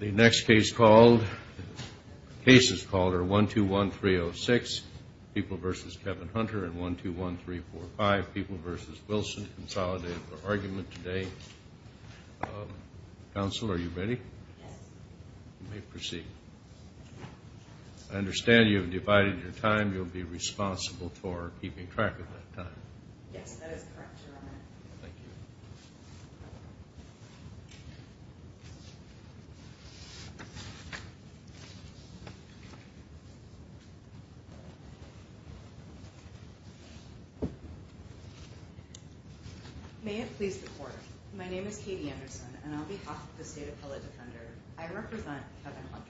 The next case called, the cases called are 121306, People v. Kevin Hunter, and 121345, People v. Wilson, Consolidated for Argument, today. Counsel, are you ready? Yes. You may proceed. I understand you have divided your time. You'll be responsible for keeping track of that time. Yes, that is correct, Your Honor. Thank you. May it please the Court, my name is Katie Anderson, and on behalf of the State Appellate Defender, I represent Kevin Hunter.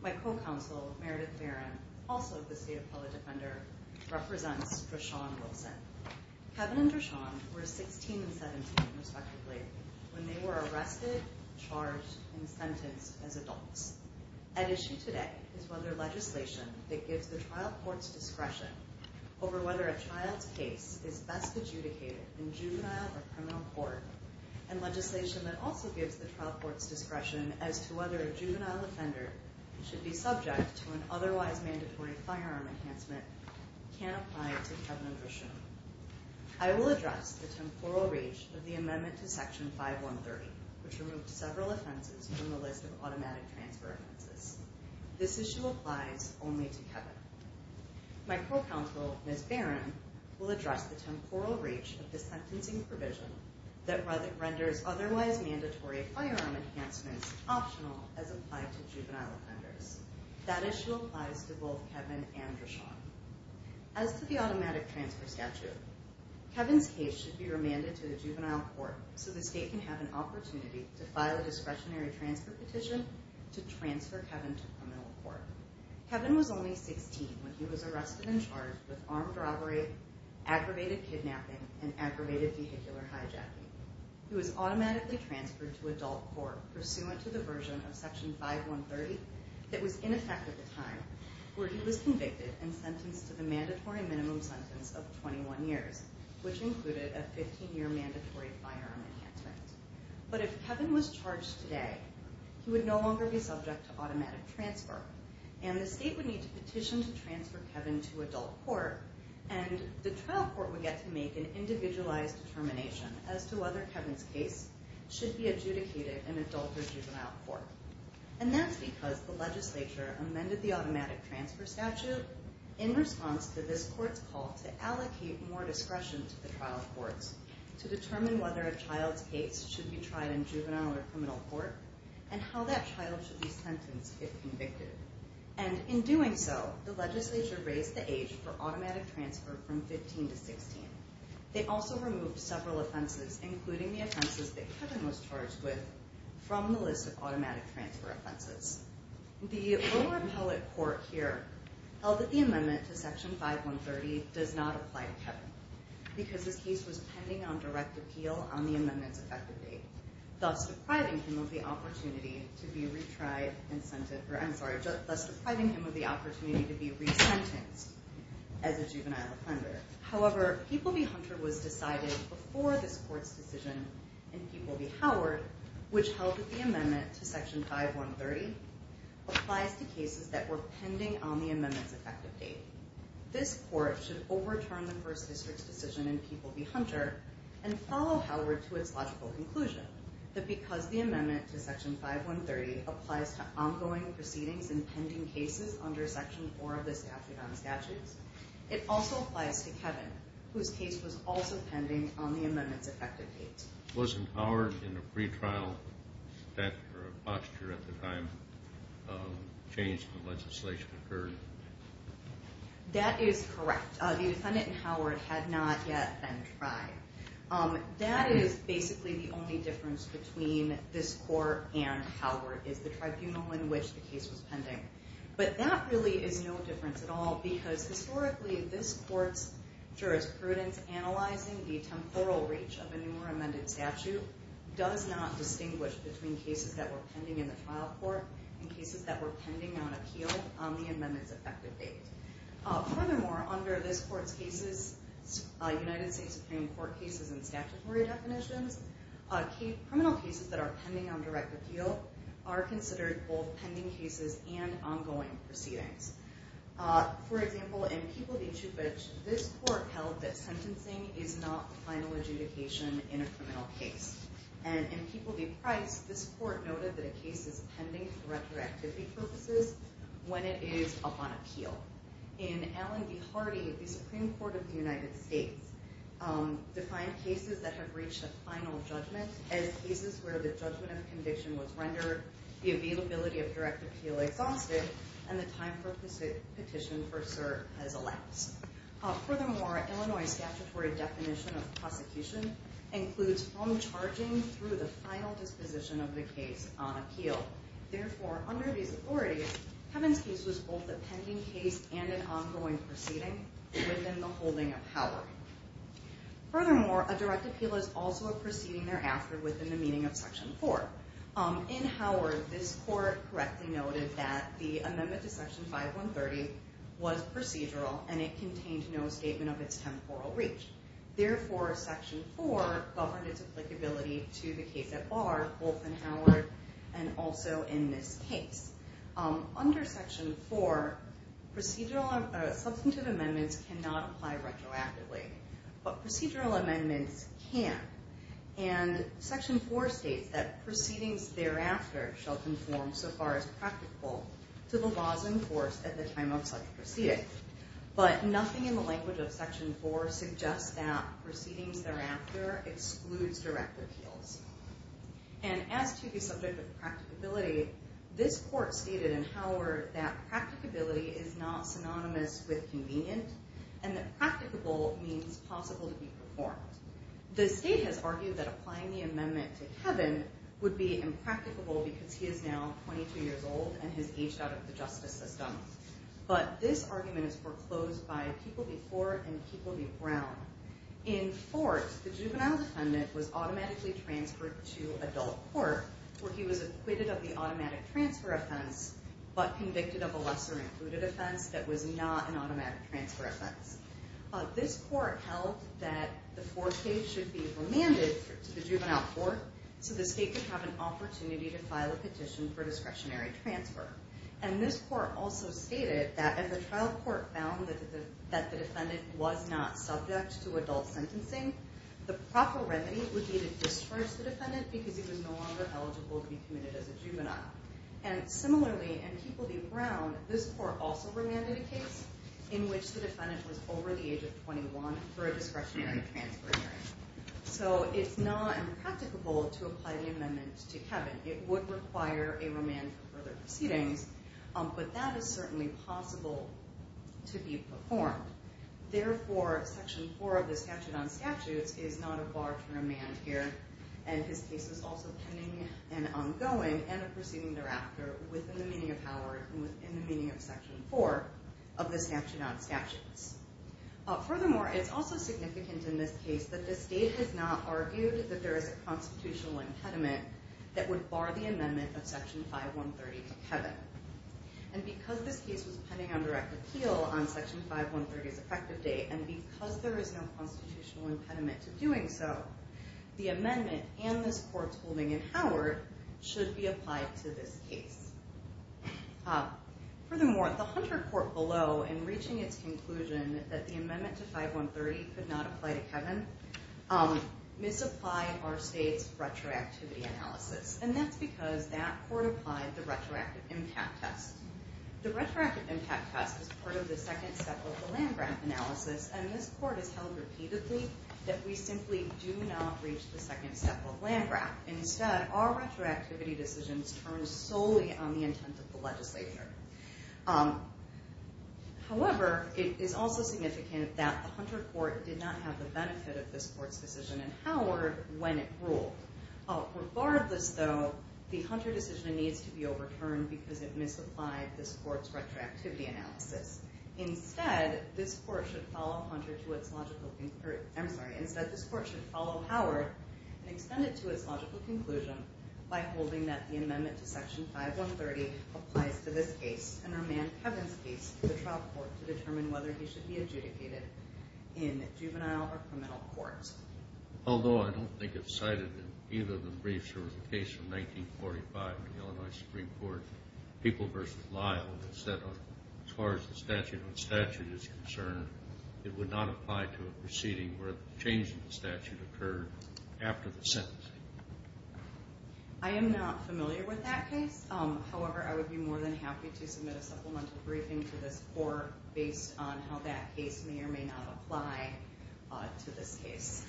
My co-counsel, Meredith Barron, also of the State Appellate Defender, represents Dreshawn Wilson. Kevin and Dreshawn were 16 and 17, respectively, when they were arrested, charged, and sentenced as adults. At issue today is whether legislation that gives the trial court's discretion over whether a child's case is best adjudicated in juvenile or criminal court, and legislation that also gives the trial court's discretion as to whether a juvenile offender should be subject to an otherwise mandatory firearm enhancement, can apply to Kevin and Dreshawn. I will address the temporal reach of the amendment to Section 5130, which removed several offenses from the list of automatic transfer offenses. This issue applies only to Kevin. My co-counsel, Ms. Barron, will address the temporal reach of the sentencing provision that renders otherwise mandatory firearm enhancements optional as applied to juvenile offenders. That issue applies to both Kevin and Dreshawn. As to the automatic transfer statute, Kevin's case should be remanded to the juvenile court so the State can have an opportunity to file a discretionary transfer petition to transfer Kevin to criminal court. Kevin was only 16 when he was arrested and charged with armed robbery, aggravated kidnapping, and aggravated vehicular hijacking. He was automatically transferred to adult court pursuant to the version of Section 5130 that was in effect at the time, where he was convicted and sentenced to the mandatory minimum sentence of 21 years, which included a 15-year mandatory firearm enhancement. But if Kevin was charged today, he would no longer be subject to automatic transfer, and the State would need to petition to transfer Kevin to adult court, and the trial court would get to make an individualized determination as to whether Kevin's case should be adjudicated in adult or juvenile court. And that's because the legislature amended the automatic transfer statute in response to this court's call to allocate more discretion to the trial courts to determine whether a child's case should be tried in juvenile or criminal court, and how that child should be sentenced if convicted. And in doing so, the legislature raised the age for automatic transfer from 15 to 16. They also removed several offenses, including the offenses that Kevin was charged with, from the list of automatic transfer offenses. The lower appellate court here held that the amendment to Section 5130 does not apply to Kevin, because his case was pending on direct appeal on the amendment's effective date, thus depriving him of the opportunity to be resentenced as a juvenile offender. However, People v. Hunter was decided before this court's decision in People v. Howard, which held that the amendment to Section 5130 applies to cases that were pending on the amendment's effective date. This court should overturn the First District's decision in People v. Hunter and follow Howard to its logical conclusion that because the amendment to Section 5130 applies to ongoing proceedings and pending cases under Section 4 of the statute on statutes, it also applies to Kevin, whose case was also pending on the amendment's effective date. Wasn't Howard in a pretrial stance or a posture at the time the change to legislation occurred? That is correct. The defendant in Howard had not yet been tried. That is basically the only difference between this court and Howard, is the tribunal in which the case was pending. But that really is no difference at all, because historically this court's jurisprudence analyzing the temporal reach of a newer amended statute does not distinguish between cases that were pending in the trial court and cases that were pending on appeal on the amendment's effective date. Furthermore, under this court's United States Supreme Court cases and statutory definitions, criminal cases that are pending on direct appeal are considered both pending cases and ongoing proceedings. For example, in People v. Chubich, this court held that sentencing is not final adjudication in a criminal case. In People v. Price, this court noted that a case is pending for retroactivity purposes when it is up on appeal. In Allen v. Hardy, the Supreme Court of the United States defined cases that have reached a final judgment as cases where the judgment of conviction was rendered, the availability of direct appeal exhausted, and the time for petition for cert has elapsed. Furthermore, Illinois' statutory definition of prosecution includes from charging through the final disposition of the case on appeal. Therefore, under these authorities, Kevin's case was both a pending case and an ongoing proceeding within the holding of Howard. Furthermore, a direct appeal is also a proceeding thereafter within the meaning of Section 4. In Howard, this court correctly noted that the amendment to Section 5130 was procedural and it contained no statement of its temporal reach. Therefore, Section 4 governed its applicability to the case at bar, both in Howard and also in this case. Under Section 4, substantive amendments cannot apply retroactively, but procedural amendments can. And Section 4 states that proceedings thereafter shall conform so far as practical to the laws enforced at the time of such proceeding. But nothing in the language of Section 4 suggests that proceedings thereafter excludes direct appeals. And as to the subject of practicability, this court stated in Howard that practicability is not synonymous with convenient and that practicable means possible to be performed. The state has argued that applying the amendment to Kevin would be impracticable because he is now 22 years old and has aged out of the justice system. But this argument is foreclosed by People v. Ford and People v. Brown. In Ford, the juvenile defendant was automatically transferred to adult court where he was acquitted of the automatic transfer offense but convicted of a lesser included offense that was not an automatic transfer offense. This court held that the Ford case should be remanded to the juvenile court so the state could have an opportunity to file a petition for discretionary transfer. And this court also stated that if the trial court found that the defendant was not subject to adult sentencing, the proper remedy would be to discharge the defendant because he was no longer eligible to be committed as a juvenile. And similarly in People v. Brown, this court also remanded a case in which the defendant was over the age of 21 for a discretionary transfer hearing. So it's not impracticable to apply the amendment to Kevin. It would require a remand for further proceedings, but that is certainly possible to be performed. Therefore, Section 4 of the Statute on Statutes is not a bar to remand here and his case is also pending and ongoing and a proceeding thereafter within the meaning of Howard and within the meaning of Section 4 of the Statute on Statutes. Furthermore, it's also significant in this case that the state has not argued that there is a constitutional impediment that would bar the amendment of Section 5130 to Kevin. And because this case was pending on direct appeal on Section 5130's effective date and because there is no constitutional impediment to doing so, the amendment and this court's holding in Howard should be applied to this case. Furthermore, the Hunter court below, in reaching its conclusion that the amendment to 5130 could not apply to Kevin, misapplied our state's retroactivity analysis. And that's because that court applied the retroactive impact test. The retroactive impact test is part of the second set of the land-grant analysis and this court has held repeatedly that we simply do not reach the second set of land-grant. Instead, our retroactivity decisions turn solely on the intent of the legislature. However, it is also significant that the Hunter court did not have the benefit of this court's decision in Howard when it ruled. Regardless though, the Hunter decision needs to be overturned because it misapplied this court's retroactivity analysis. Instead, this court should follow Howard and extend it to its logical conclusion by holding that the amendment to Section 5130 applies to this case and remand Kevin's case to the trial court to determine whether he should be adjudicated in juvenile or criminal court. Although I don't think it's cited in either of the briefs or in the case from 1945 in the Illinois Supreme Court, People v. Lyle said as far as the statute on statute is concerned, it would not apply to a proceeding where the change in the statute occurred after the sentencing. I am not familiar with that case. However, I would be more than happy to submit a supplemental briefing to this court based on how that case may or may not apply to this case.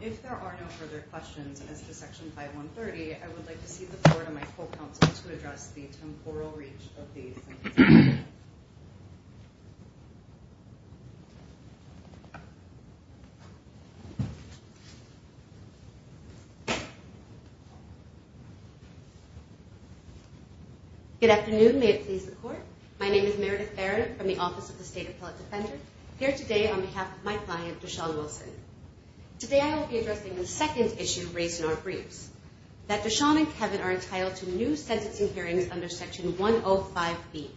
If there are no further questions as to Section 5130, I would like to cede the floor to my co-counsel to address the temporal reach of the sentencing. Good afternoon. May it please the court. My name is Meredith Barron from the Office of the State Appellate Defender, here today on behalf of my client, Dashaun Wilson. Today I will be addressing the second issue raised in our briefs, that Dashaun and Kevin are entitled to new sentencing hearings under Section 105B,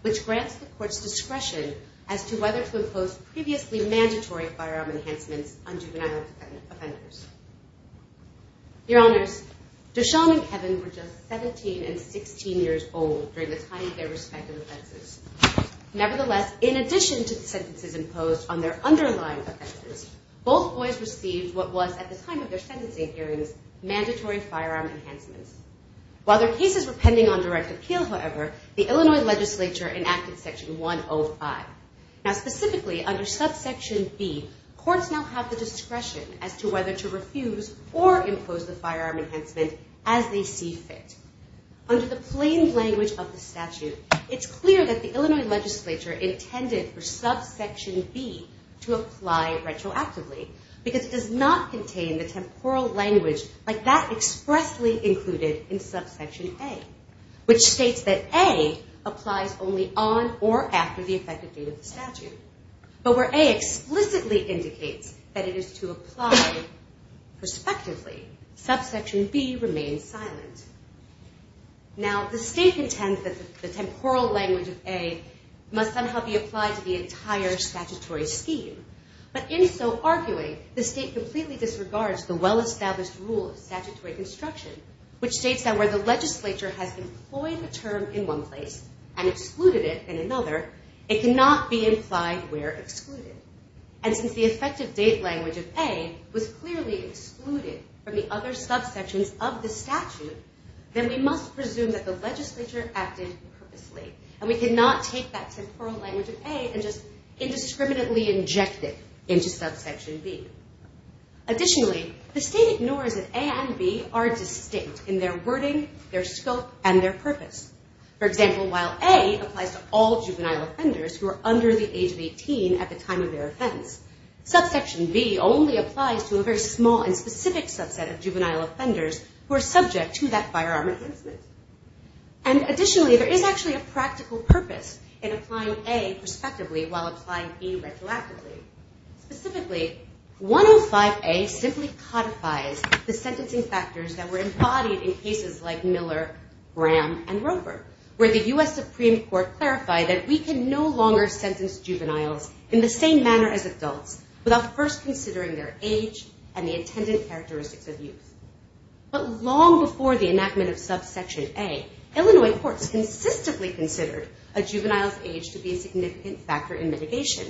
which grants the court's discretion as to whether to impose previously mandatory firearm enhancements on juvenile offenders. Your Honors, Dashaun and Kevin were just 17 and 16 years old during the time of their respective offenses. Nevertheless, in addition to the sentences imposed on their underlying offenses, both boys received what was, at the time of their sentencing hearings, mandatory firearm enhancements. While their cases were pending on direct appeal, however, the Illinois legislature enacted Section 105. Now, specifically under Subsection B, courts now have the discretion as to whether to refuse or impose the firearm enhancement as they see fit. Under the plain language of the statute, it's clear that the Illinois legislature intended for Subsection B to apply retroactively, because it does not contain the temporal language like that expressly included in Subsection A, which states that A applies only on or after the effective date of the statute. But where A explicitly indicates that it is to apply prospectively, Subsection B remains silent. Now, the state contends that the temporal language of A must somehow be applied to the entire statutory scheme. But in so arguing, the state completely disregards the well-established rule of statutory construction, which states that where the legislature has employed a term in one place and excluded it in another, it cannot be implied where excluded. And since the effective date language of A was clearly excluded from the other subsections of the statute, then we must presume that the legislature acted purposely, and we cannot take that temporal language of A and just indiscriminately inject it into Subsection B. Additionally, the state ignores that A and B are distinct in their wording, their scope, and their purpose. For example, while A applies to all juvenile offenders who are under the age of 18 at the time of their offense, Subsection B only applies to a very small and specific subset of juvenile offenders who are subject to that firearm enhancement. And additionally, there is actually a practical purpose in applying A prospectively while applying B retroactively. Specifically, 105A simply codifies the sentencing factors that were embodied in cases like Miller, Graham, and Roper, where the U.S. Supreme Court clarified that we can no longer sentence juveniles in the same manner as adults without first considering their age and the attendant characteristics of youth. But long before the enactment of Subsection A, Illinois courts consistently considered a juvenile's age to be a significant factor in mitigation.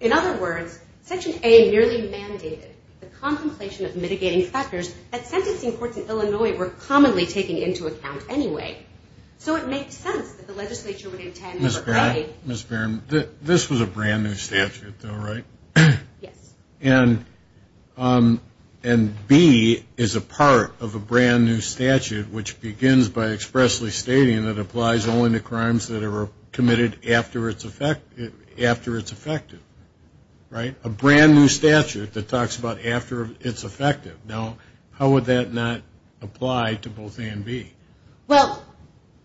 In other words, Section A merely mandated the contemplation of mitigating factors that sentencing courts in Illinois were commonly taking into account anyway. So it makes sense that the legislature would intend to provide... Mr. Barron, this was a brand new statute, though, right? Yes. And B is a part of a brand new statute which begins by expressly stating that it applies only to crimes that are committed after it's effected. Right? A brand new statute that talks about after it's effected. Now, how would that not apply to both A and B? Well,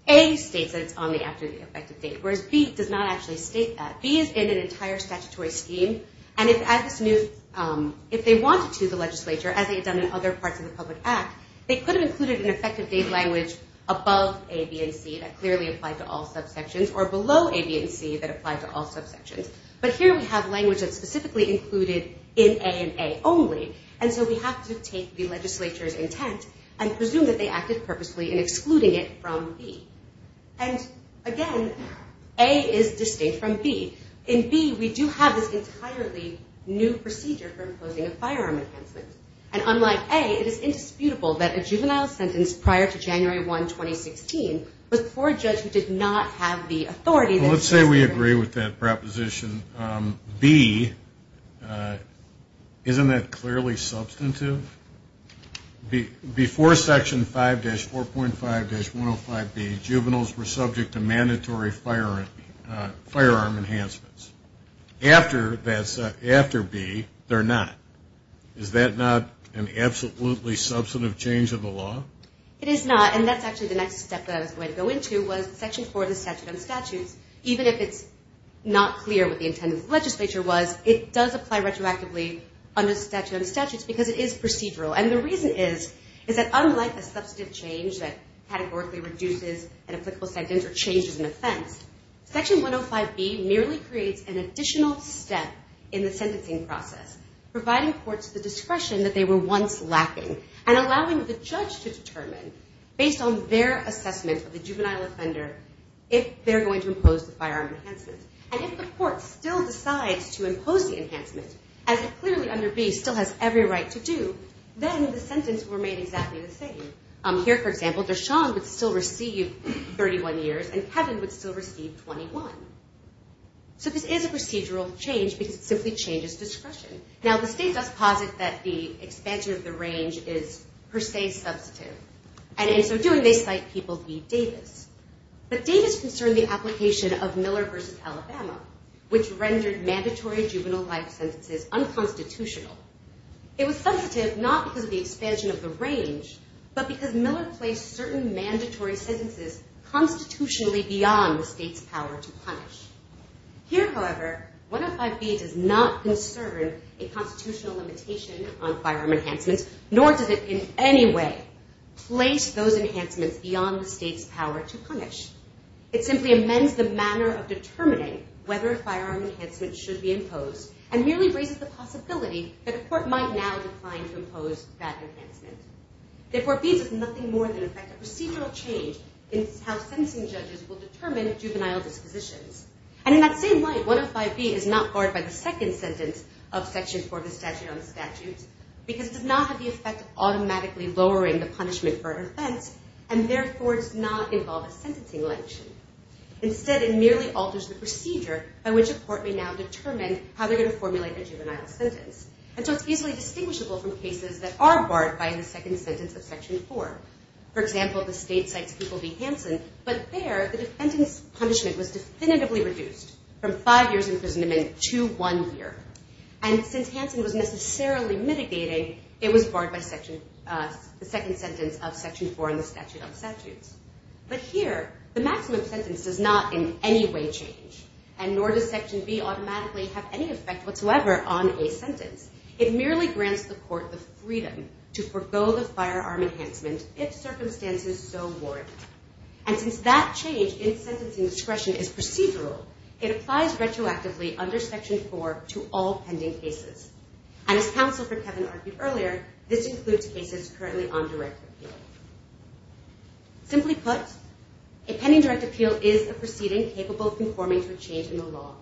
A states that it's only after the effected date, whereas B does not actually state that. B is in an entire statutory scheme, and if they wanted to, the legislature, as they had done in other parts of the public act, they could have included an effective date language above A, B, and C that clearly applied to all subsections, or below A, B, and C that applied to all subsections. But here we have language that's specifically included in A and A only, and so we have to take the legislature's intent and presume that they acted purposely in excluding it from B. And, again, A is distinct from B. In B, we do have this entirely new procedure for imposing a firearm enhancement, and unlike A, it is indisputable that a juvenile sentence prior to January 1, 2016, was before a judge who did not have the authority... Well, let's say we agree with that proposition. B, isn't that clearly substantive? Before Section 5-4.5-105B, juveniles were subject to mandatory firearm enhancements. After B, they're not. Is that not an absolutely substantive change of the law? It is not, and that's actually the next step that I was going to go into, was Section 4 of the Statute on Statutes. Even if it's not clear what the intent of the legislature was, it does apply retroactively under the Statute on Statutes, because it is procedural. And the reason is, is that unlike a substantive change that categorically reduces an applicable sentence or changes an offense, Section 105B merely creates an additional step in the sentencing process, providing courts the discretion that they were once lacking, and allowing the judge to determine, based on their assessment of the juvenile offender, if they're going to impose the firearm enhancement. And if the court still decides to impose the enhancement, as it clearly under B still has every right to do, then the sentence will remain exactly the same. Here, for example, Dashaun would still receive 31 years, and Kevin would still receive 21. So this is a procedural change, because it simply changes discretion. Now, the state does posit that the expansion of the range is, per se, substantive. And in so doing, they cite People v. Davis. But Davis concerned the application of Miller v. Alabama, which rendered mandatory juvenile life sentences unconstitutional. It was substantive not because of the expansion of the range, but because Miller placed certain mandatory sentences constitutionally beyond the state's power to punish. Here, however, 105B does not concern a constitutional limitation on firearm enhancements, nor does it in any way place those enhancements beyond the state's power to punish. It simply amends the manner of determining whether a firearm enhancement should be imposed, and merely raises the possibility that a court might now decline to impose that enhancement. Therefore, B does nothing more than affect a procedural change in how sentencing judges will determine juvenile dispositions. And in that same light, 105B is not barred by the second sentence of Section 4 of the Statute on the Statutes, because it does not have the effect of automatically lowering the punishment for an offense, and therefore does not involve a sentencing limitation. Instead, it merely alters the procedure by which a court may now determine how they're going to formulate their juvenile sentence. And so it's easily distinguishable from cases that are barred by the second sentence of Section 4. For example, the state cites People v. Hansen, but there, the defendant's punishment was definitively reduced from five years imprisonment to one year. And since Hansen was necessarily mitigating, it was barred by the second sentence of Section 4 in the Statute on the Statutes. But here, the maximum sentence does not in any way change, and nor does Section B automatically have any effect whatsoever on a sentence. It merely grants the court the freedom to forego the firearm enhancement if circumstances so warrant. And since that change in sentencing discretion is procedural, it applies retroactively under Section 4 to all pending cases. And as counsel for Kevin argued earlier, this includes cases currently on direct appeal. Simply put, a pending direct appeal is a proceeding capable of conforming to a change in the law.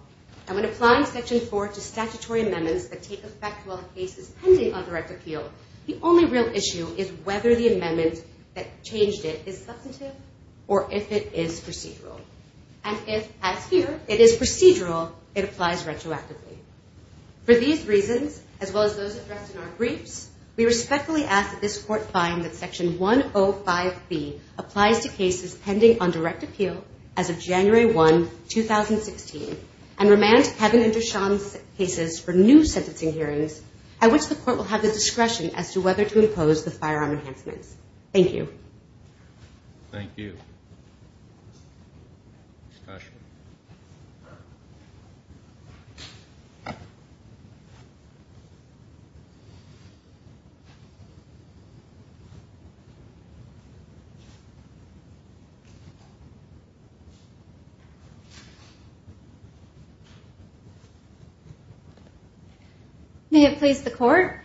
And when applying Section 4 to statutory amendments that take effect while the case is pending on direct appeal, the only real issue is whether the amendment that changed it is substantive or if it is procedural. And if, as here, it is procedural, it applies retroactively. For these reasons, as well as those addressed in our briefs, we respectfully ask that this court find that Section 105B applies to cases pending on direct appeal as of January 1, 2016, and remand Kevin and Deshaun's cases for new sentencing hearings at which the court will have the discretion as to whether to impose the firearm enhancements. Thank you. Thank you. Discussion? May it please the court.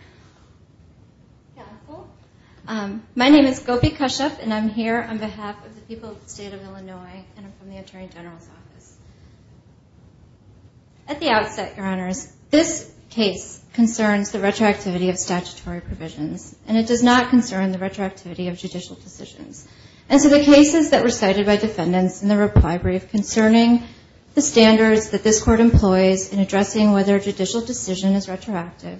My name is Gopi Kashyap, and I'm here on behalf of the people of the state of Illinois, and I'm from the Attorney General's office. At the outset, Your Honors, this case concerns the retroactivity of statutory provisions, and it does not concern the retroactivity of judicial decisions. And so the cases that were cited by defendants in the reply brief concerning the standards that this court employs in addressing whether a judicial decision is retroactive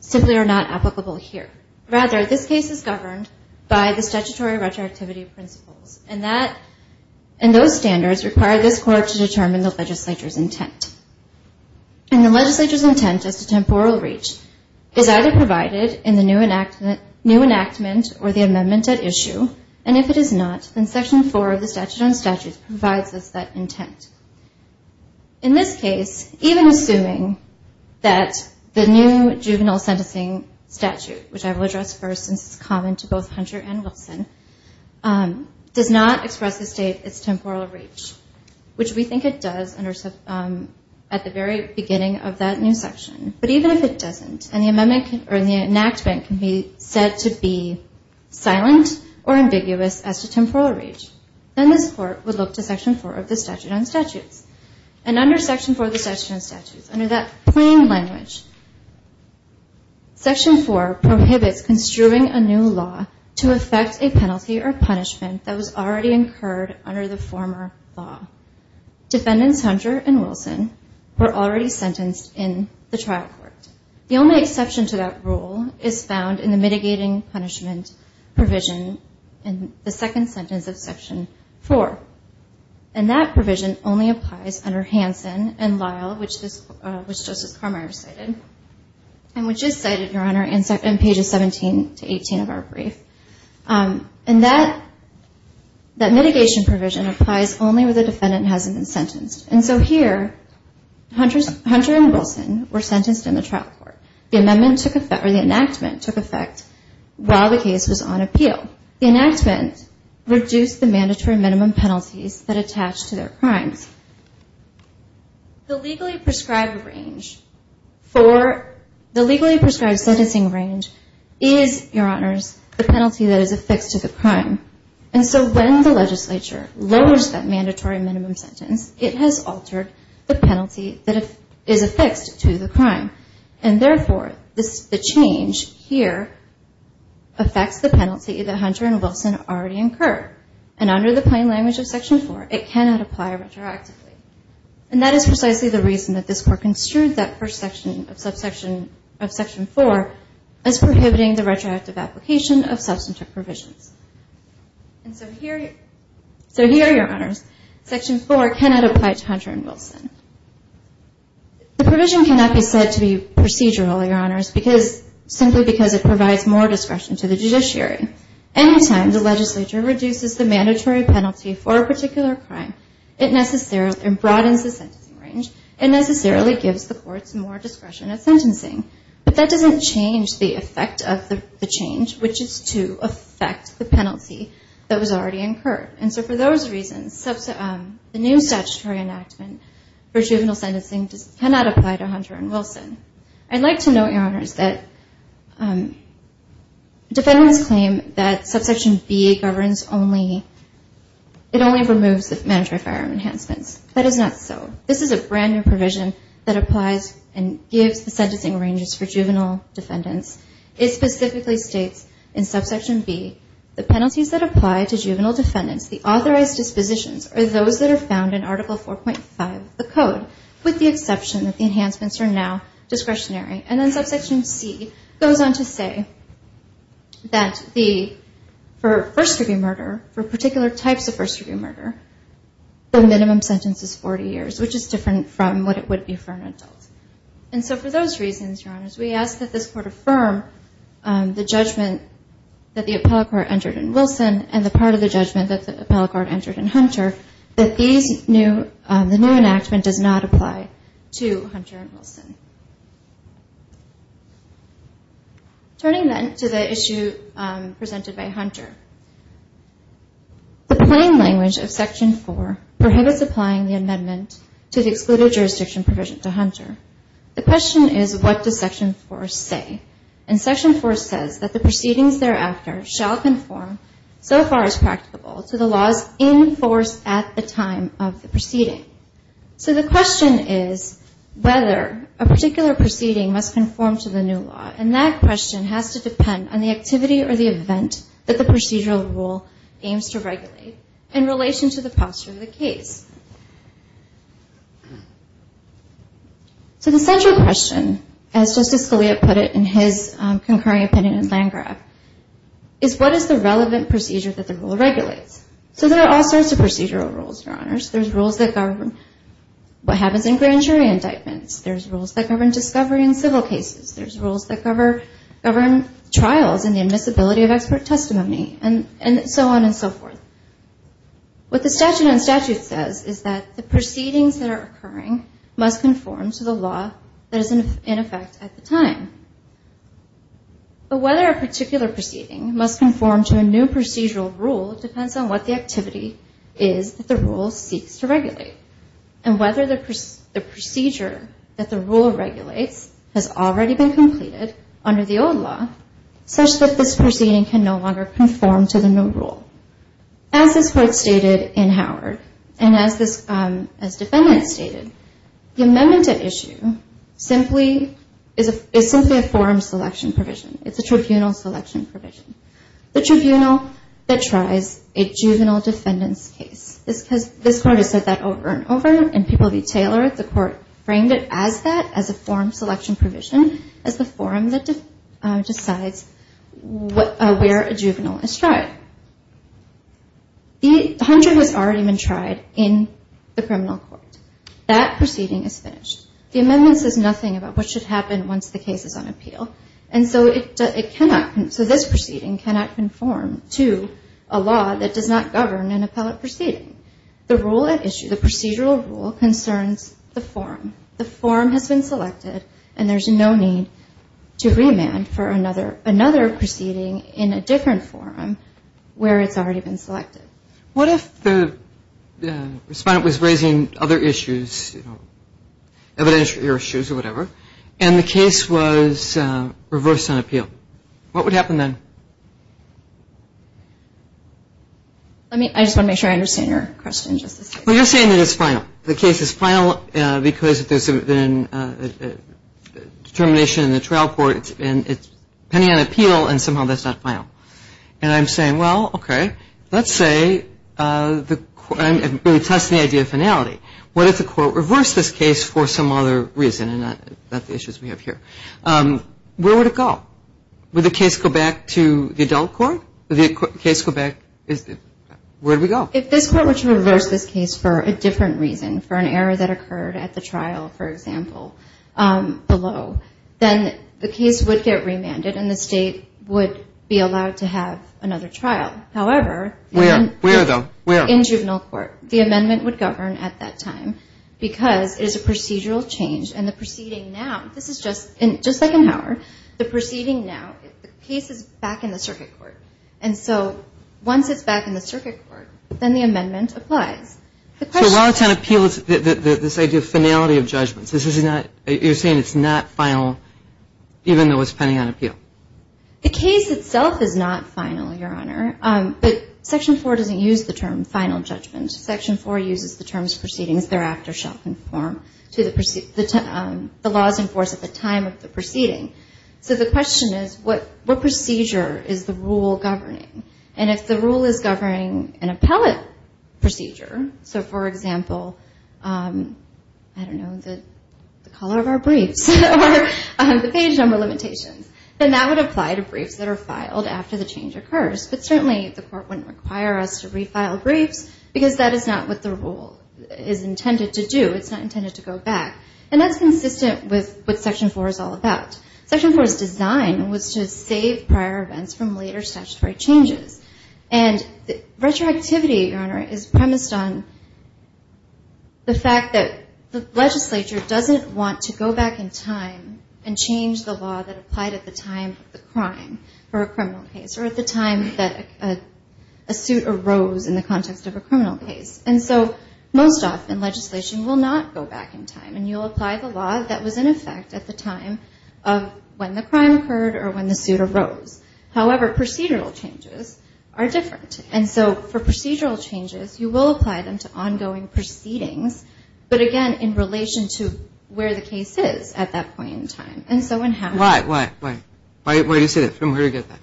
simply are not applicable here. Rather, this case is governed by the statutory retroactivity principles, and those standards require this court to determine the legislature's intent. And the legislature's intent as to temporal reach is either provided in the new enactment or the amendment at issue, and if it is not, then Section 4 of the statute on statutes provides us that intent. In this case, even assuming that the new juvenile sentencing statute, which I will address first since it's common to both Hunter and Wilson, does not express the state its temporal reach, which we think it does at the very beginning of that new section. But even if it doesn't, and the enactment can be said to be silent or ambiguous as to temporal reach, then this court would look to Section 4 of the statute on statutes. And under Section 4 of the statute on statutes, under that plain language, Section 4 prohibits construing a new law to effect a penalty or punishment that was already incurred under the former law. Defendants Hunter and Wilson were already sentenced in the trial court. The only exception to that rule is found in the mitigating punishment provision in the second sentence of Section 4. And that provision only applies under Hanson and Lyle, which Justice Carmeier cited, and which is cited, Your Honor, in pages 17 to 18 of our brief. And that mitigation provision applies only where the defendant hasn't been sentenced. And so here, Hunter and Wilson were sentenced in the trial court. The amendment took effect, or the enactment took effect, while the case was on appeal. The enactment reduced the mandatory minimum penalties that attach to their crimes. The legally prescribed range for the legally prescribed sentencing range is, Your Honors, the penalty that is affixed to the crime. And so when the legislature lowers that mandatory minimum sentence, it has altered the penalty that is affixed to the crime. And therefore, the change here affects the penalty that Hunter and Wilson already incurred. And under the plain language of Section 4, it cannot apply retroactively. And that is precisely the reason that this Court construed that first section of Section 4 as prohibiting the retroactive application of substantive provisions. And so here, Your Honors, Section 4 cannot apply to Hunter and Wilson. The provision cannot be said to be procedural, Your Honors, simply because it provides more discretion to the judiciary. Any time the legislature reduces the mandatory penalty for a particular crime, it broadens the sentencing range, and necessarily gives the courts more discretion of sentencing. But that doesn't change the effect of the change, which is to affect the penalty that was already incurred. And so for those reasons, the new statutory enactment for juvenile sentencing cannot apply to Hunter and Wilson. I'd like to note, Your Honors, that defendants claim that subsection B governs only, it only removes the mandatory firearm enhancements. That is not so. This is a brand new provision that applies and gives the sentencing ranges for juvenile defendants. It specifically states in subsection B, the penalties that apply to juvenile defendants, the authorized dispositions are those that are found in Article 4.5 of the Code, with the exception that the enhancements are now discretionary. And then subsection C goes on to say that for first-degree murder, for particular types of first-degree murder, the minimum sentence is 40 years, which is different from what it would be for an adult. And so for those reasons, Your Honors, we ask that this Court affirm the judgment that the appellate court entered in Wilson and the part of the judgment that the appellate court entered in Hunter, that the new enactment does not apply to Hunter and Wilson. Turning then to the issue presented by Hunter, the plain language of Section 4 prohibits applying the amendment to the excluded jurisdiction provision to Hunter. The question is, what does Section 4 say? And Section 4 says that the proceedings thereafter shall conform, so far as practicable, to the laws in force at the time of the proceeding. So the question is whether a particular proceeding must conform to the new law, and that question has to depend on the activity or the event that the procedural rule aims to regulate in relation to the posture of the case. So the central question, as Justice Scalia put it in his concurring opinion in Landgraf, is what is the relevant procedure that the rule regulates? So there are all sorts of procedural rules, Your Honors. There's rules that govern what happens in grand jury indictments. There's rules that govern discovery in civil cases. There's rules that govern trials and the admissibility of expert testimony, and so on and so forth. What the statute on statute says is that the proceedings that are occurring must conform to the law that is in effect at the time. But whether a particular proceeding must conform to a new procedural rule depends on what the activity is that the rule seeks to regulate, and whether the procedure that the rule regulates has already been completed under the old law, such that this proceeding can no longer conform to the new rule. As this Court stated in Howard, and as Defendant stated, the amendment to issue is simply a forum selection provision. It's a tribunal selection provision. The tribunal that tries a juvenile defendant's case. This Court has said that over and over, and people detail it. The Court framed it as that, as a forum selection provision, as the forum that decides where a juvenile is tried. The hunter has already been tried in the criminal court. That proceeding is finished. The amendment says nothing about what should happen once the case is on appeal, and so this proceeding cannot conform to a law that does not govern an appellate proceeding. The rule at issue, the procedural rule, concerns the forum. The forum has been selected, and there's no need to remand for another proceeding in a different forum where it's already been selected. What if the respondent was raising other issues, evidentiary issues or whatever, and the case was reversed on appeal? What would happen then? I just want to make sure I understand your question. Well, you're saying that it's final. The case is final because if there's a determination in the trial court, and it's pending on appeal, and somehow that's not final. And I'm saying, well, okay, let's say we test the idea of finality. What if the Court reversed this case for some other reason and not the issues we have here? Where would it go? Would the case go back to the adult court? Would the case go back? Where would we go? If this Court were to reverse this case for a different reason, for an error that occurred at the trial, for example, below, then the case would get remanded and the State would be allowed to have another trial. However, in juvenile court, the amendment would govern at that time because it is a procedural change, and the proceeding now, this is just like in Howard, the proceeding now, the case is back in the circuit court. And so once it's back in the circuit court, then the amendment applies. The question is that ---- So while it's on appeal, this idea of finality of judgments, this is not, you're saying it's not final even though it's pending on appeal? The case itself is not final, Your Honor. But Section 4 doesn't use the term final judgment. Section 4 uses the terms proceedings thereafter shall conform to the laws enforced at the time of the proceeding. So the question is, what procedure is the rule governing? And if the rule is governing an appellate procedure, so for example, I don't know, the color of our briefs or the page number limitations, then that would apply to briefs that are filed after the change occurs. But certainly the Court wouldn't require us to refile briefs because that is not what the rule is intended to do. It's not intended to go back. And that's consistent with what Section 4 is all about. Section 4's design was to save prior events from later statutory changes. And retroactivity, Your Honor, is premised on the fact that the legislature doesn't want to go back in time and change the law that applied at the time of the crime for a criminal case or at the time that a suit arose in the context of a criminal case. And so most often legislation will not go back in time. And you'll apply the law that was in effect at the time of when the crime occurred or when the suit arose. However, procedural changes are different. And so for procedural changes, you will apply them to ongoing proceedings, but again, in relation to where the case is at that point in time. And so in having to do that. Why, why, why? Why do you say that? From where do you get that?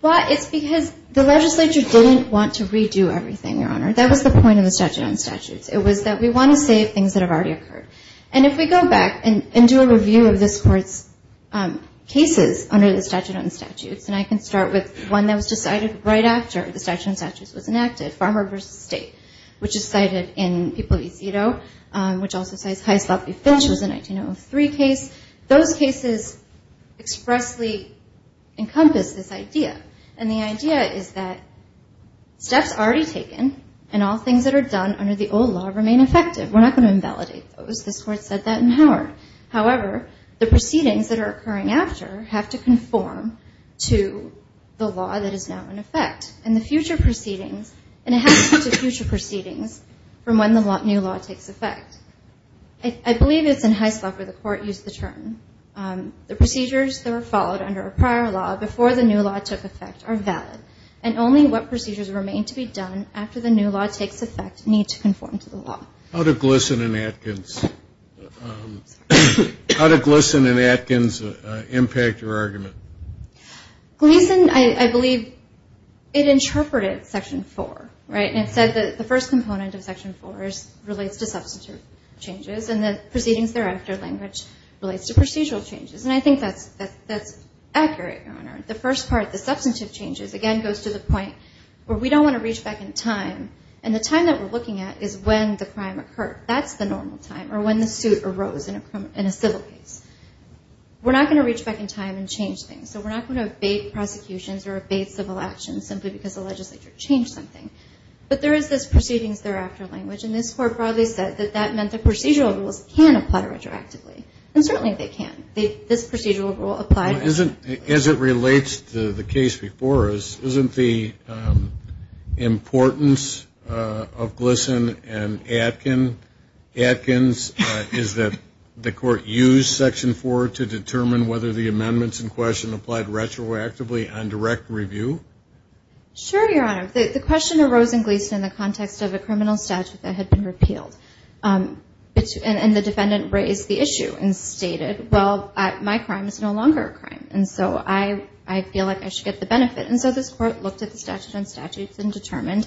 Well, it's because the legislature didn't want to redo everything, Your Honor. That was the point of the statute on statutes. It was that we want to save things that have already occurred. And if we go back and do a review of this Court's cases under the statute on statutes, and I can start with one that was decided right after the statute on statutes was enacted, Farmer v. State, which is cited in People v. Cito, which also cites High Sloppy Finch, which was a 1903 case. Those cases expressly encompass this idea. And the idea is that steps already taken and all things that are done under the old law remain effective. We're not going to invalidate those. This Court said that in Howard. However, the proceedings that are occurring after have to conform to the law that is now in effect. And the future proceedings, and it has to be to future proceedings from when the new law takes effect. I believe it's in High Sloppy where the Court used the term. The procedures that were followed under a prior law before the new law took effect are valid, and only what procedures remain to be done after the new law takes effect need to conform to the law. How did Gleeson and Atkins impact your argument? Gleeson, I believe, it interpreted Section 4, right? And it said that the first component of Section 4 relates to substitute changes, and the proceedings thereafter language relates to procedural changes. And I think that's accurate, Your Honor. The first part, the substantive changes, again, goes to the point where we don't want to reach back in time, and the time that we're looking at is when the crime occurred. That's the normal time, or when the suit arose in a civil case. We're not going to reach back in time and change things, so we're not going to abate prosecutions or abate civil actions simply because the legislature changed something. But there is this proceedings thereafter language, and this Court broadly said that that meant that procedural rules can apply retroactively, and certainly they can. This procedural rule applied retroactively. As it relates to the case before us, isn't the importance of Gleeson and Atkins is that the Court used Section 4 to determine whether the amendments in question applied retroactively on direct review? Sure, Your Honor. The question arose in Gleeson in the context of a criminal statute that had been repealed, and the defendant raised the issue and stated, well, my crime is no longer a crime, and so I feel like I should get the benefit. And so this Court looked at the statute on statutes and determined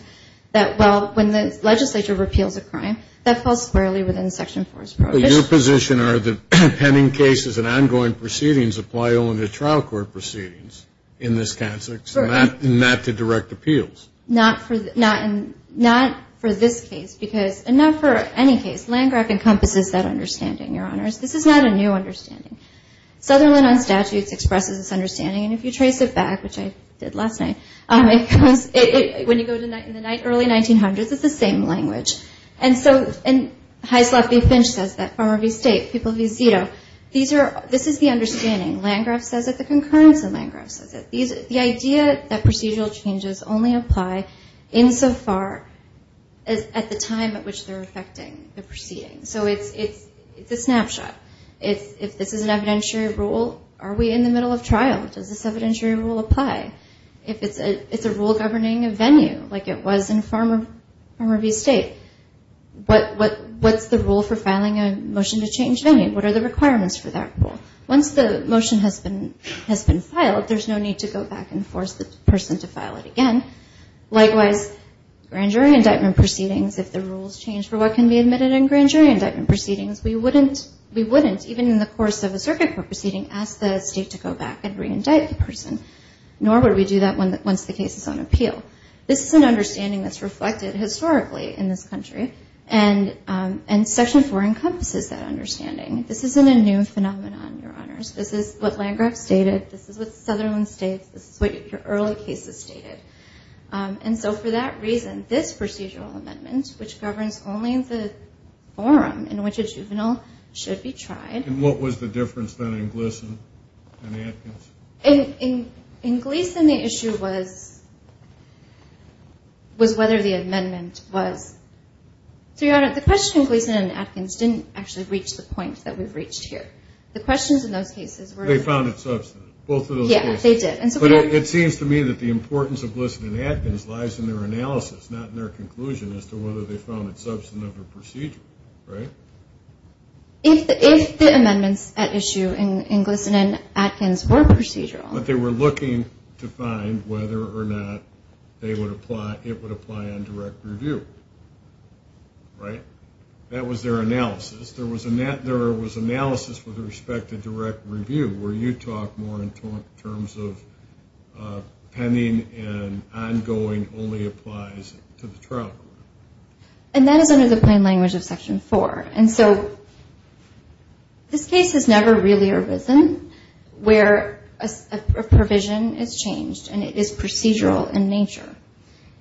that, well, when the legislature repeals a crime, that falls squarely within Section 4's prohibition. But your position are that pending cases and ongoing proceedings apply only to trial court proceedings in this context and not to direct appeals? Not for this case. And not for any case. Landgraf encompasses that understanding, Your Honors. This is not a new understanding. Sutherland on statutes expresses this understanding, and if you trace it back, which I did last night, when you go to the early 1900s, it's the same language. And Heisloff v. Finch says that, Farmer v. State, People v. Zito. This is the understanding. Landgraf says it, the concurrence of Landgraf says it. The idea that procedural changes only apply insofar as at the time at which they're affecting the proceedings. So it's a snapshot. If this is an evidentiary rule, are we in the middle of trial? Does this evidentiary rule apply? If it's a rule governing a venue, like it was in Farmer v. State, what's the rule for filing a motion to change venue? What are the requirements for that rule? Once the motion has been filed, there's no need to go back and force the person to file it again. Likewise, grand jury indictment proceedings, if the rules change for what can be admitted in grand jury indictment proceedings, we wouldn't, even in the course of a circuit court proceeding, ask the state to go back and reindict the person. Nor would we do that once the case is on appeal. This is an understanding that's reflected historically in this country, and Section 4 encompasses that understanding. This isn't a new phenomenon, Your Honors. This is what Landgraf stated. This is what Sutherland states. This is what your early cases stated. And so for that reason, this procedural amendment, which governs only the forum in which a juvenile should be tried. And what was the difference then in Gleason and Atkins? In Gleason, the issue was whether the amendment was. So, Your Honor, the question in Gleason and Atkins didn't actually reach the point that we've reached here. The questions in those cases were. They found it substantive. Both of those cases. Yeah, they did. But it seems to me that the importance of Gleason and Atkins lies in their analysis, not in their conclusion as to whether they found it substantive or procedural, right? If the amendments at issue in Gleason and Atkins were procedural. But they were looking to find whether or not it would apply on direct review, right? That was their analysis. There was analysis with respect to direct review, where you talk more in terms of pending and ongoing only applies to the trial. And that is under the plain language of Section 4. And so this case has never really arisen where a provision is changed and it is procedural in nature.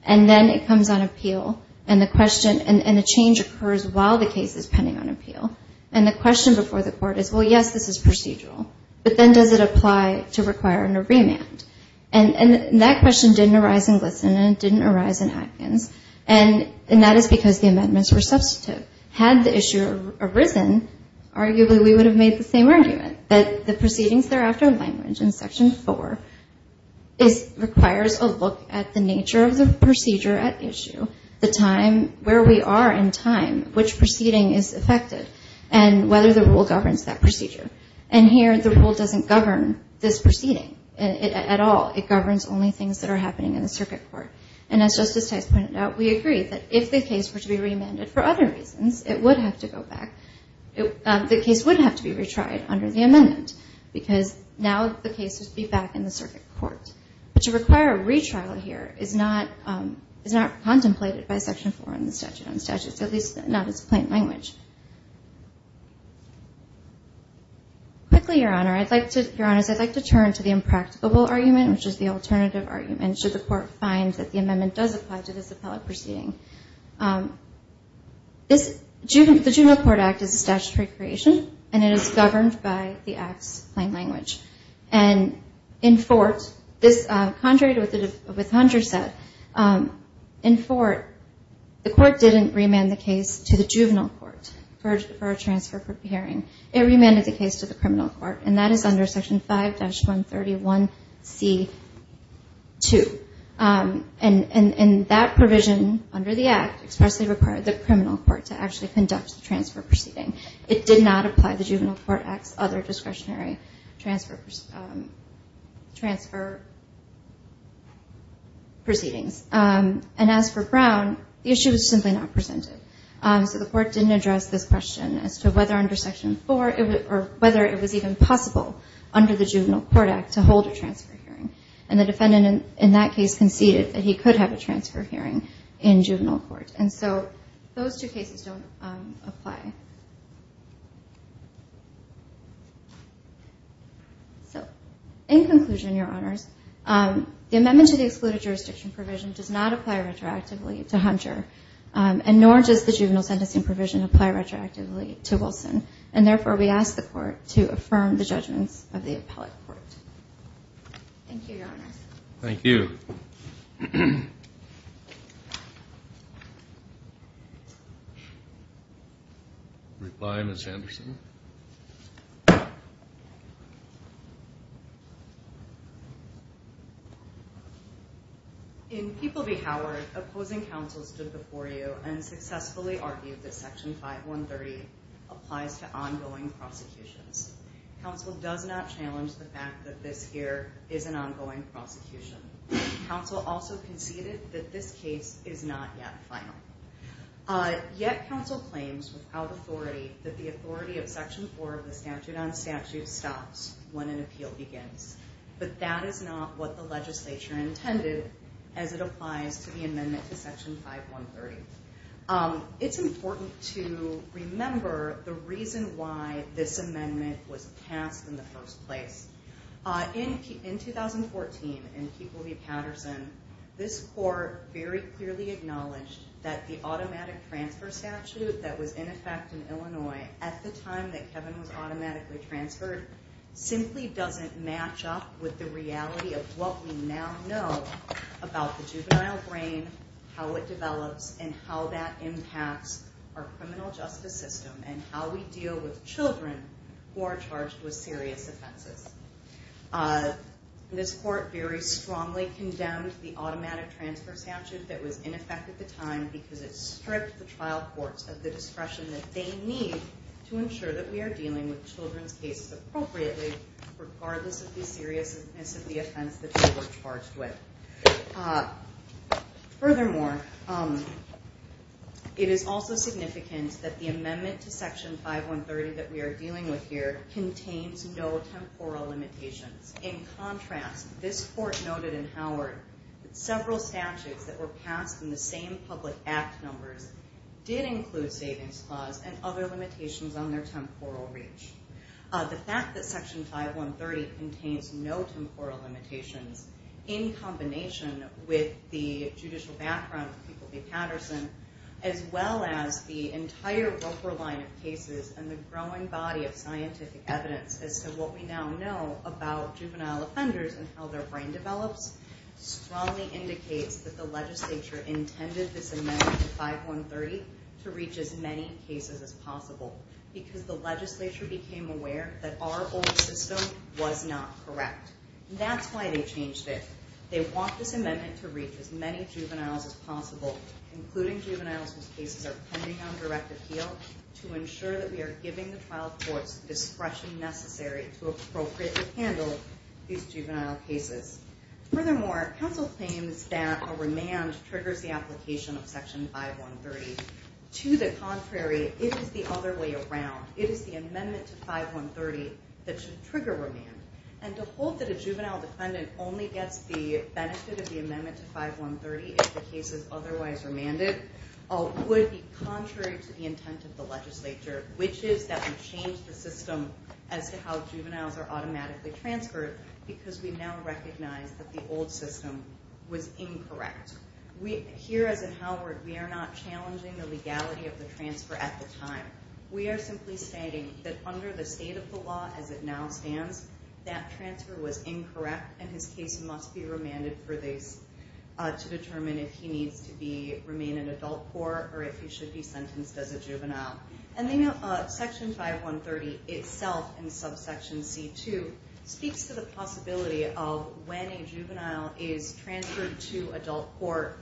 And then it comes on appeal. And the change occurs while the case is pending on appeal. And the question before the court is, well, yes, this is procedural. But then does it apply to require a remand? And that question didn't arise in Gleason and it didn't arise in Atkins. And that is because the amendments were substantive. Had the issue arisen, arguably we would have made the same argument, that the proceedings thereafter language in Section 4 requires a look at the nature of the procedure at issue, the time, where we are in time, which proceeding is affected, and whether the rule governs that procedure. And here the rule doesn't govern this proceeding at all. It governs only things that are happening in the circuit court. And as Justice Tice pointed out, we agree that if the case were to be remanded for other reasons, it would have to go back. The case would have to be retried under the amendment because now the case would be back in the circuit court. But to require a retrial here is not contemplated by Section 4 in the statute on statutes, at least not as plain language. Quickly, Your Honor, I'd like to turn to the impracticable argument, which is the alternative argument. Should the court find that the amendment does apply to this appellate proceeding? The Juvenile Court Act is a statutory creation, and it is governed by the Act's plain language. And in Fort, this, contrary to what Hunter said, in Fort, the court didn't remand the case to the juvenile court for a transfer hearing. It remanded the case to the criminal court. And that is under Section 5-131C2. And that provision under the Act expressly required the criminal court to actually conduct the transfer proceeding. It did not apply the Juvenile Court Act's other discretionary transfer proceedings. And as for Brown, the issue was simply not presented. So the court didn't address this question as to whether under Section 4 or whether it was even possible under the Juvenile Court Act to hold a transfer hearing. And the defendant in that case conceded that he could have a transfer hearing in juvenile court. And so those two cases don't apply. So in conclusion, Your Honors, the amendment to the excluded jurisdiction provision does not apply retroactively to Hunter, and nor does the juvenile sentencing provision apply retroactively to Wilson. And therefore, we ask the court to affirm the judgments of the appellate court. Thank you, Your Honor. Thank you. We'll reply, Ms. Anderson. In People v. Howard, opposing counsel stood before you and successfully argued that Section 5130 applies to ongoing prosecutions. Counsel does not challenge the fact that this here is an ongoing prosecution. Counsel also conceded that this case is not yet final. Yet counsel claims without authority that the authority of Section 4 of the Statute on Statutes stops when an appeal begins. But that is not what the legislature intended as it applies to the amendment to Section 5130. It's important to remember the reason why this amendment was passed in the first place. In 2014, in People v. Patterson, this court very clearly acknowledged that the automatic transfer statute that was in effect in Illinois at the time that Kevin was automatically transferred simply doesn't match up with the reality of what we now know about the juvenile brain, how it develops, and how that impacts our criminal justice system and how we deal with children who are charged with serious offenses. This court very strongly condemned the automatic transfer statute that was in effect at the time because it stripped the trial courts of the discretion that they need to ensure that we are dealing with children's cases appropriately regardless of the seriousness of the offense that they were charged with. Furthermore, it is also significant that the amendment to Section 5130 that we are dealing with here contains no temporal limitations. In contrast, this court noted in Howard that several statutes that were passed in the same public act numbers did include savings clause and other limitations on their temporal reach. The fact that Section 5130 contains no temporal limitations in combination with the judicial background of People v. Patterson as well as the entire Roper line of cases and the growing body of scientific evidence as to what we now know about juvenile offenders and how their brain develops strongly indicates that the legislature intended this amendment to 5130 to reach as many cases as possible because the legislature became aware that our old system was not correct. That's why they changed it. They want this amendment to reach as many juveniles as possible, including juveniles whose cases are pending on direct appeal, to ensure that we are giving the trial courts the discretion necessary to appropriately handle these juvenile cases. Furthermore, counsel claims that a remand triggers the application of Section 5130. To the contrary, it is the other way around. It is the amendment to 5130 that should trigger remand. And to hold that a juvenile defendant only gets the benefit of the amendment to 5130 if the case is otherwise remanded would be contrary to the intent of the legislature, which is that we change the system as to how juveniles are automatically transferred because we now recognize that the old system was incorrect. Here, as in Howard, we are not challenging the legality of the transfer at the time. We are simply stating that under the state of the law as it now stands, that transfer was incorrect and his case must be remanded to determine if he needs to remain in adult court or if he should be sentenced as a juvenile. Section 5130 itself, in subsection C2, speaks to the possibility of when a juvenile is transferred to adult court,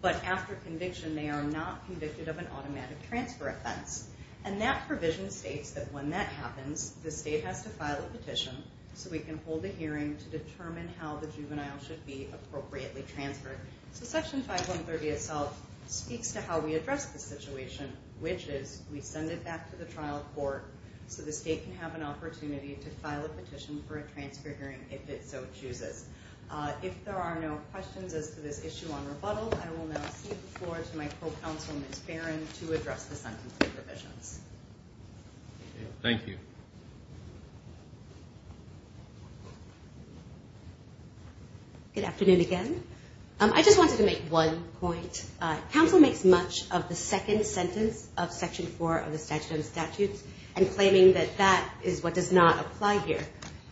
but after conviction they are not convicted of an automatic transfer offense. And that provision states that when that happens, the state has to file a petition so we can hold a hearing to determine how the juvenile should be appropriately transferred. Section 5130 itself speaks to how we address this situation, which is we send it back to the trial court so the state can have an opportunity to file a petition for a transfer hearing if it so chooses. If there are no questions as to this issue on rebuttal, I will now cede the floor to my co-counsel, Ms. Barron, to address the sentencing provisions. Thank you. Good afternoon again. I just wanted to make one point. Council makes much of the second sentence of Section 4 of the Statute of Statutes and claiming that that is what does not apply here.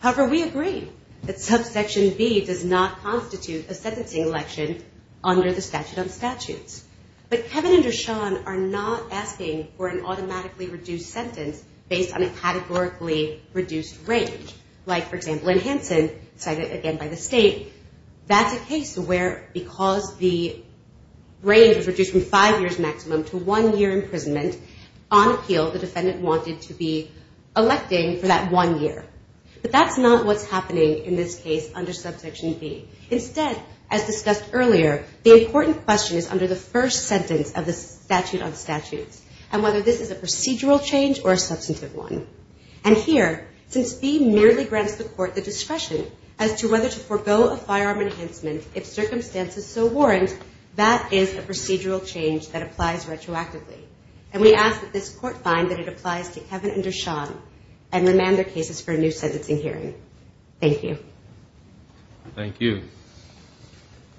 However, we agree that subsection B does not constitute a sentencing election under the Statute of Statutes. But Kevin and Darshan are not asking for an automatically reduced sentence based on a categorically reduced range. Like, for example, in Hansen, cited again by the state, that's a case where because the range was reduced from five years maximum to one year imprisonment, on appeal the defendant wanted to be electing for that one year. But that's not what's happening in this case under subsection B. Instead, as discussed earlier, the important question is under the first sentence of the Statute of Statutes and whether this is a procedural change or a substantive one. And here, since B merely grants the court the discretion as to whether to forego a firearm enhancement if circumstances so warrant, that is a procedural change that applies retroactively. And we ask that this court find that it applies to Kevin and Darshan and remand their cases for a new sentencing hearing. Thank you. Thank you.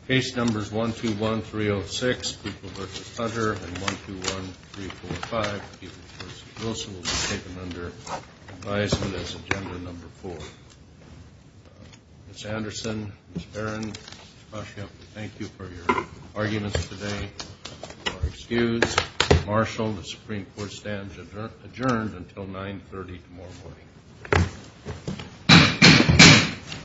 Case numbers 121306, Pupil v. Hunter, and 121345, Pupil v. Wilson, will be taken under advisement as agenda number four. Ms. Anderson, Ms. Barron, Ms. Pasha, we thank you for your arguments today. You are excused. Marshal, the Supreme Court stands adjourned until 930 tomorrow morning. Thank you.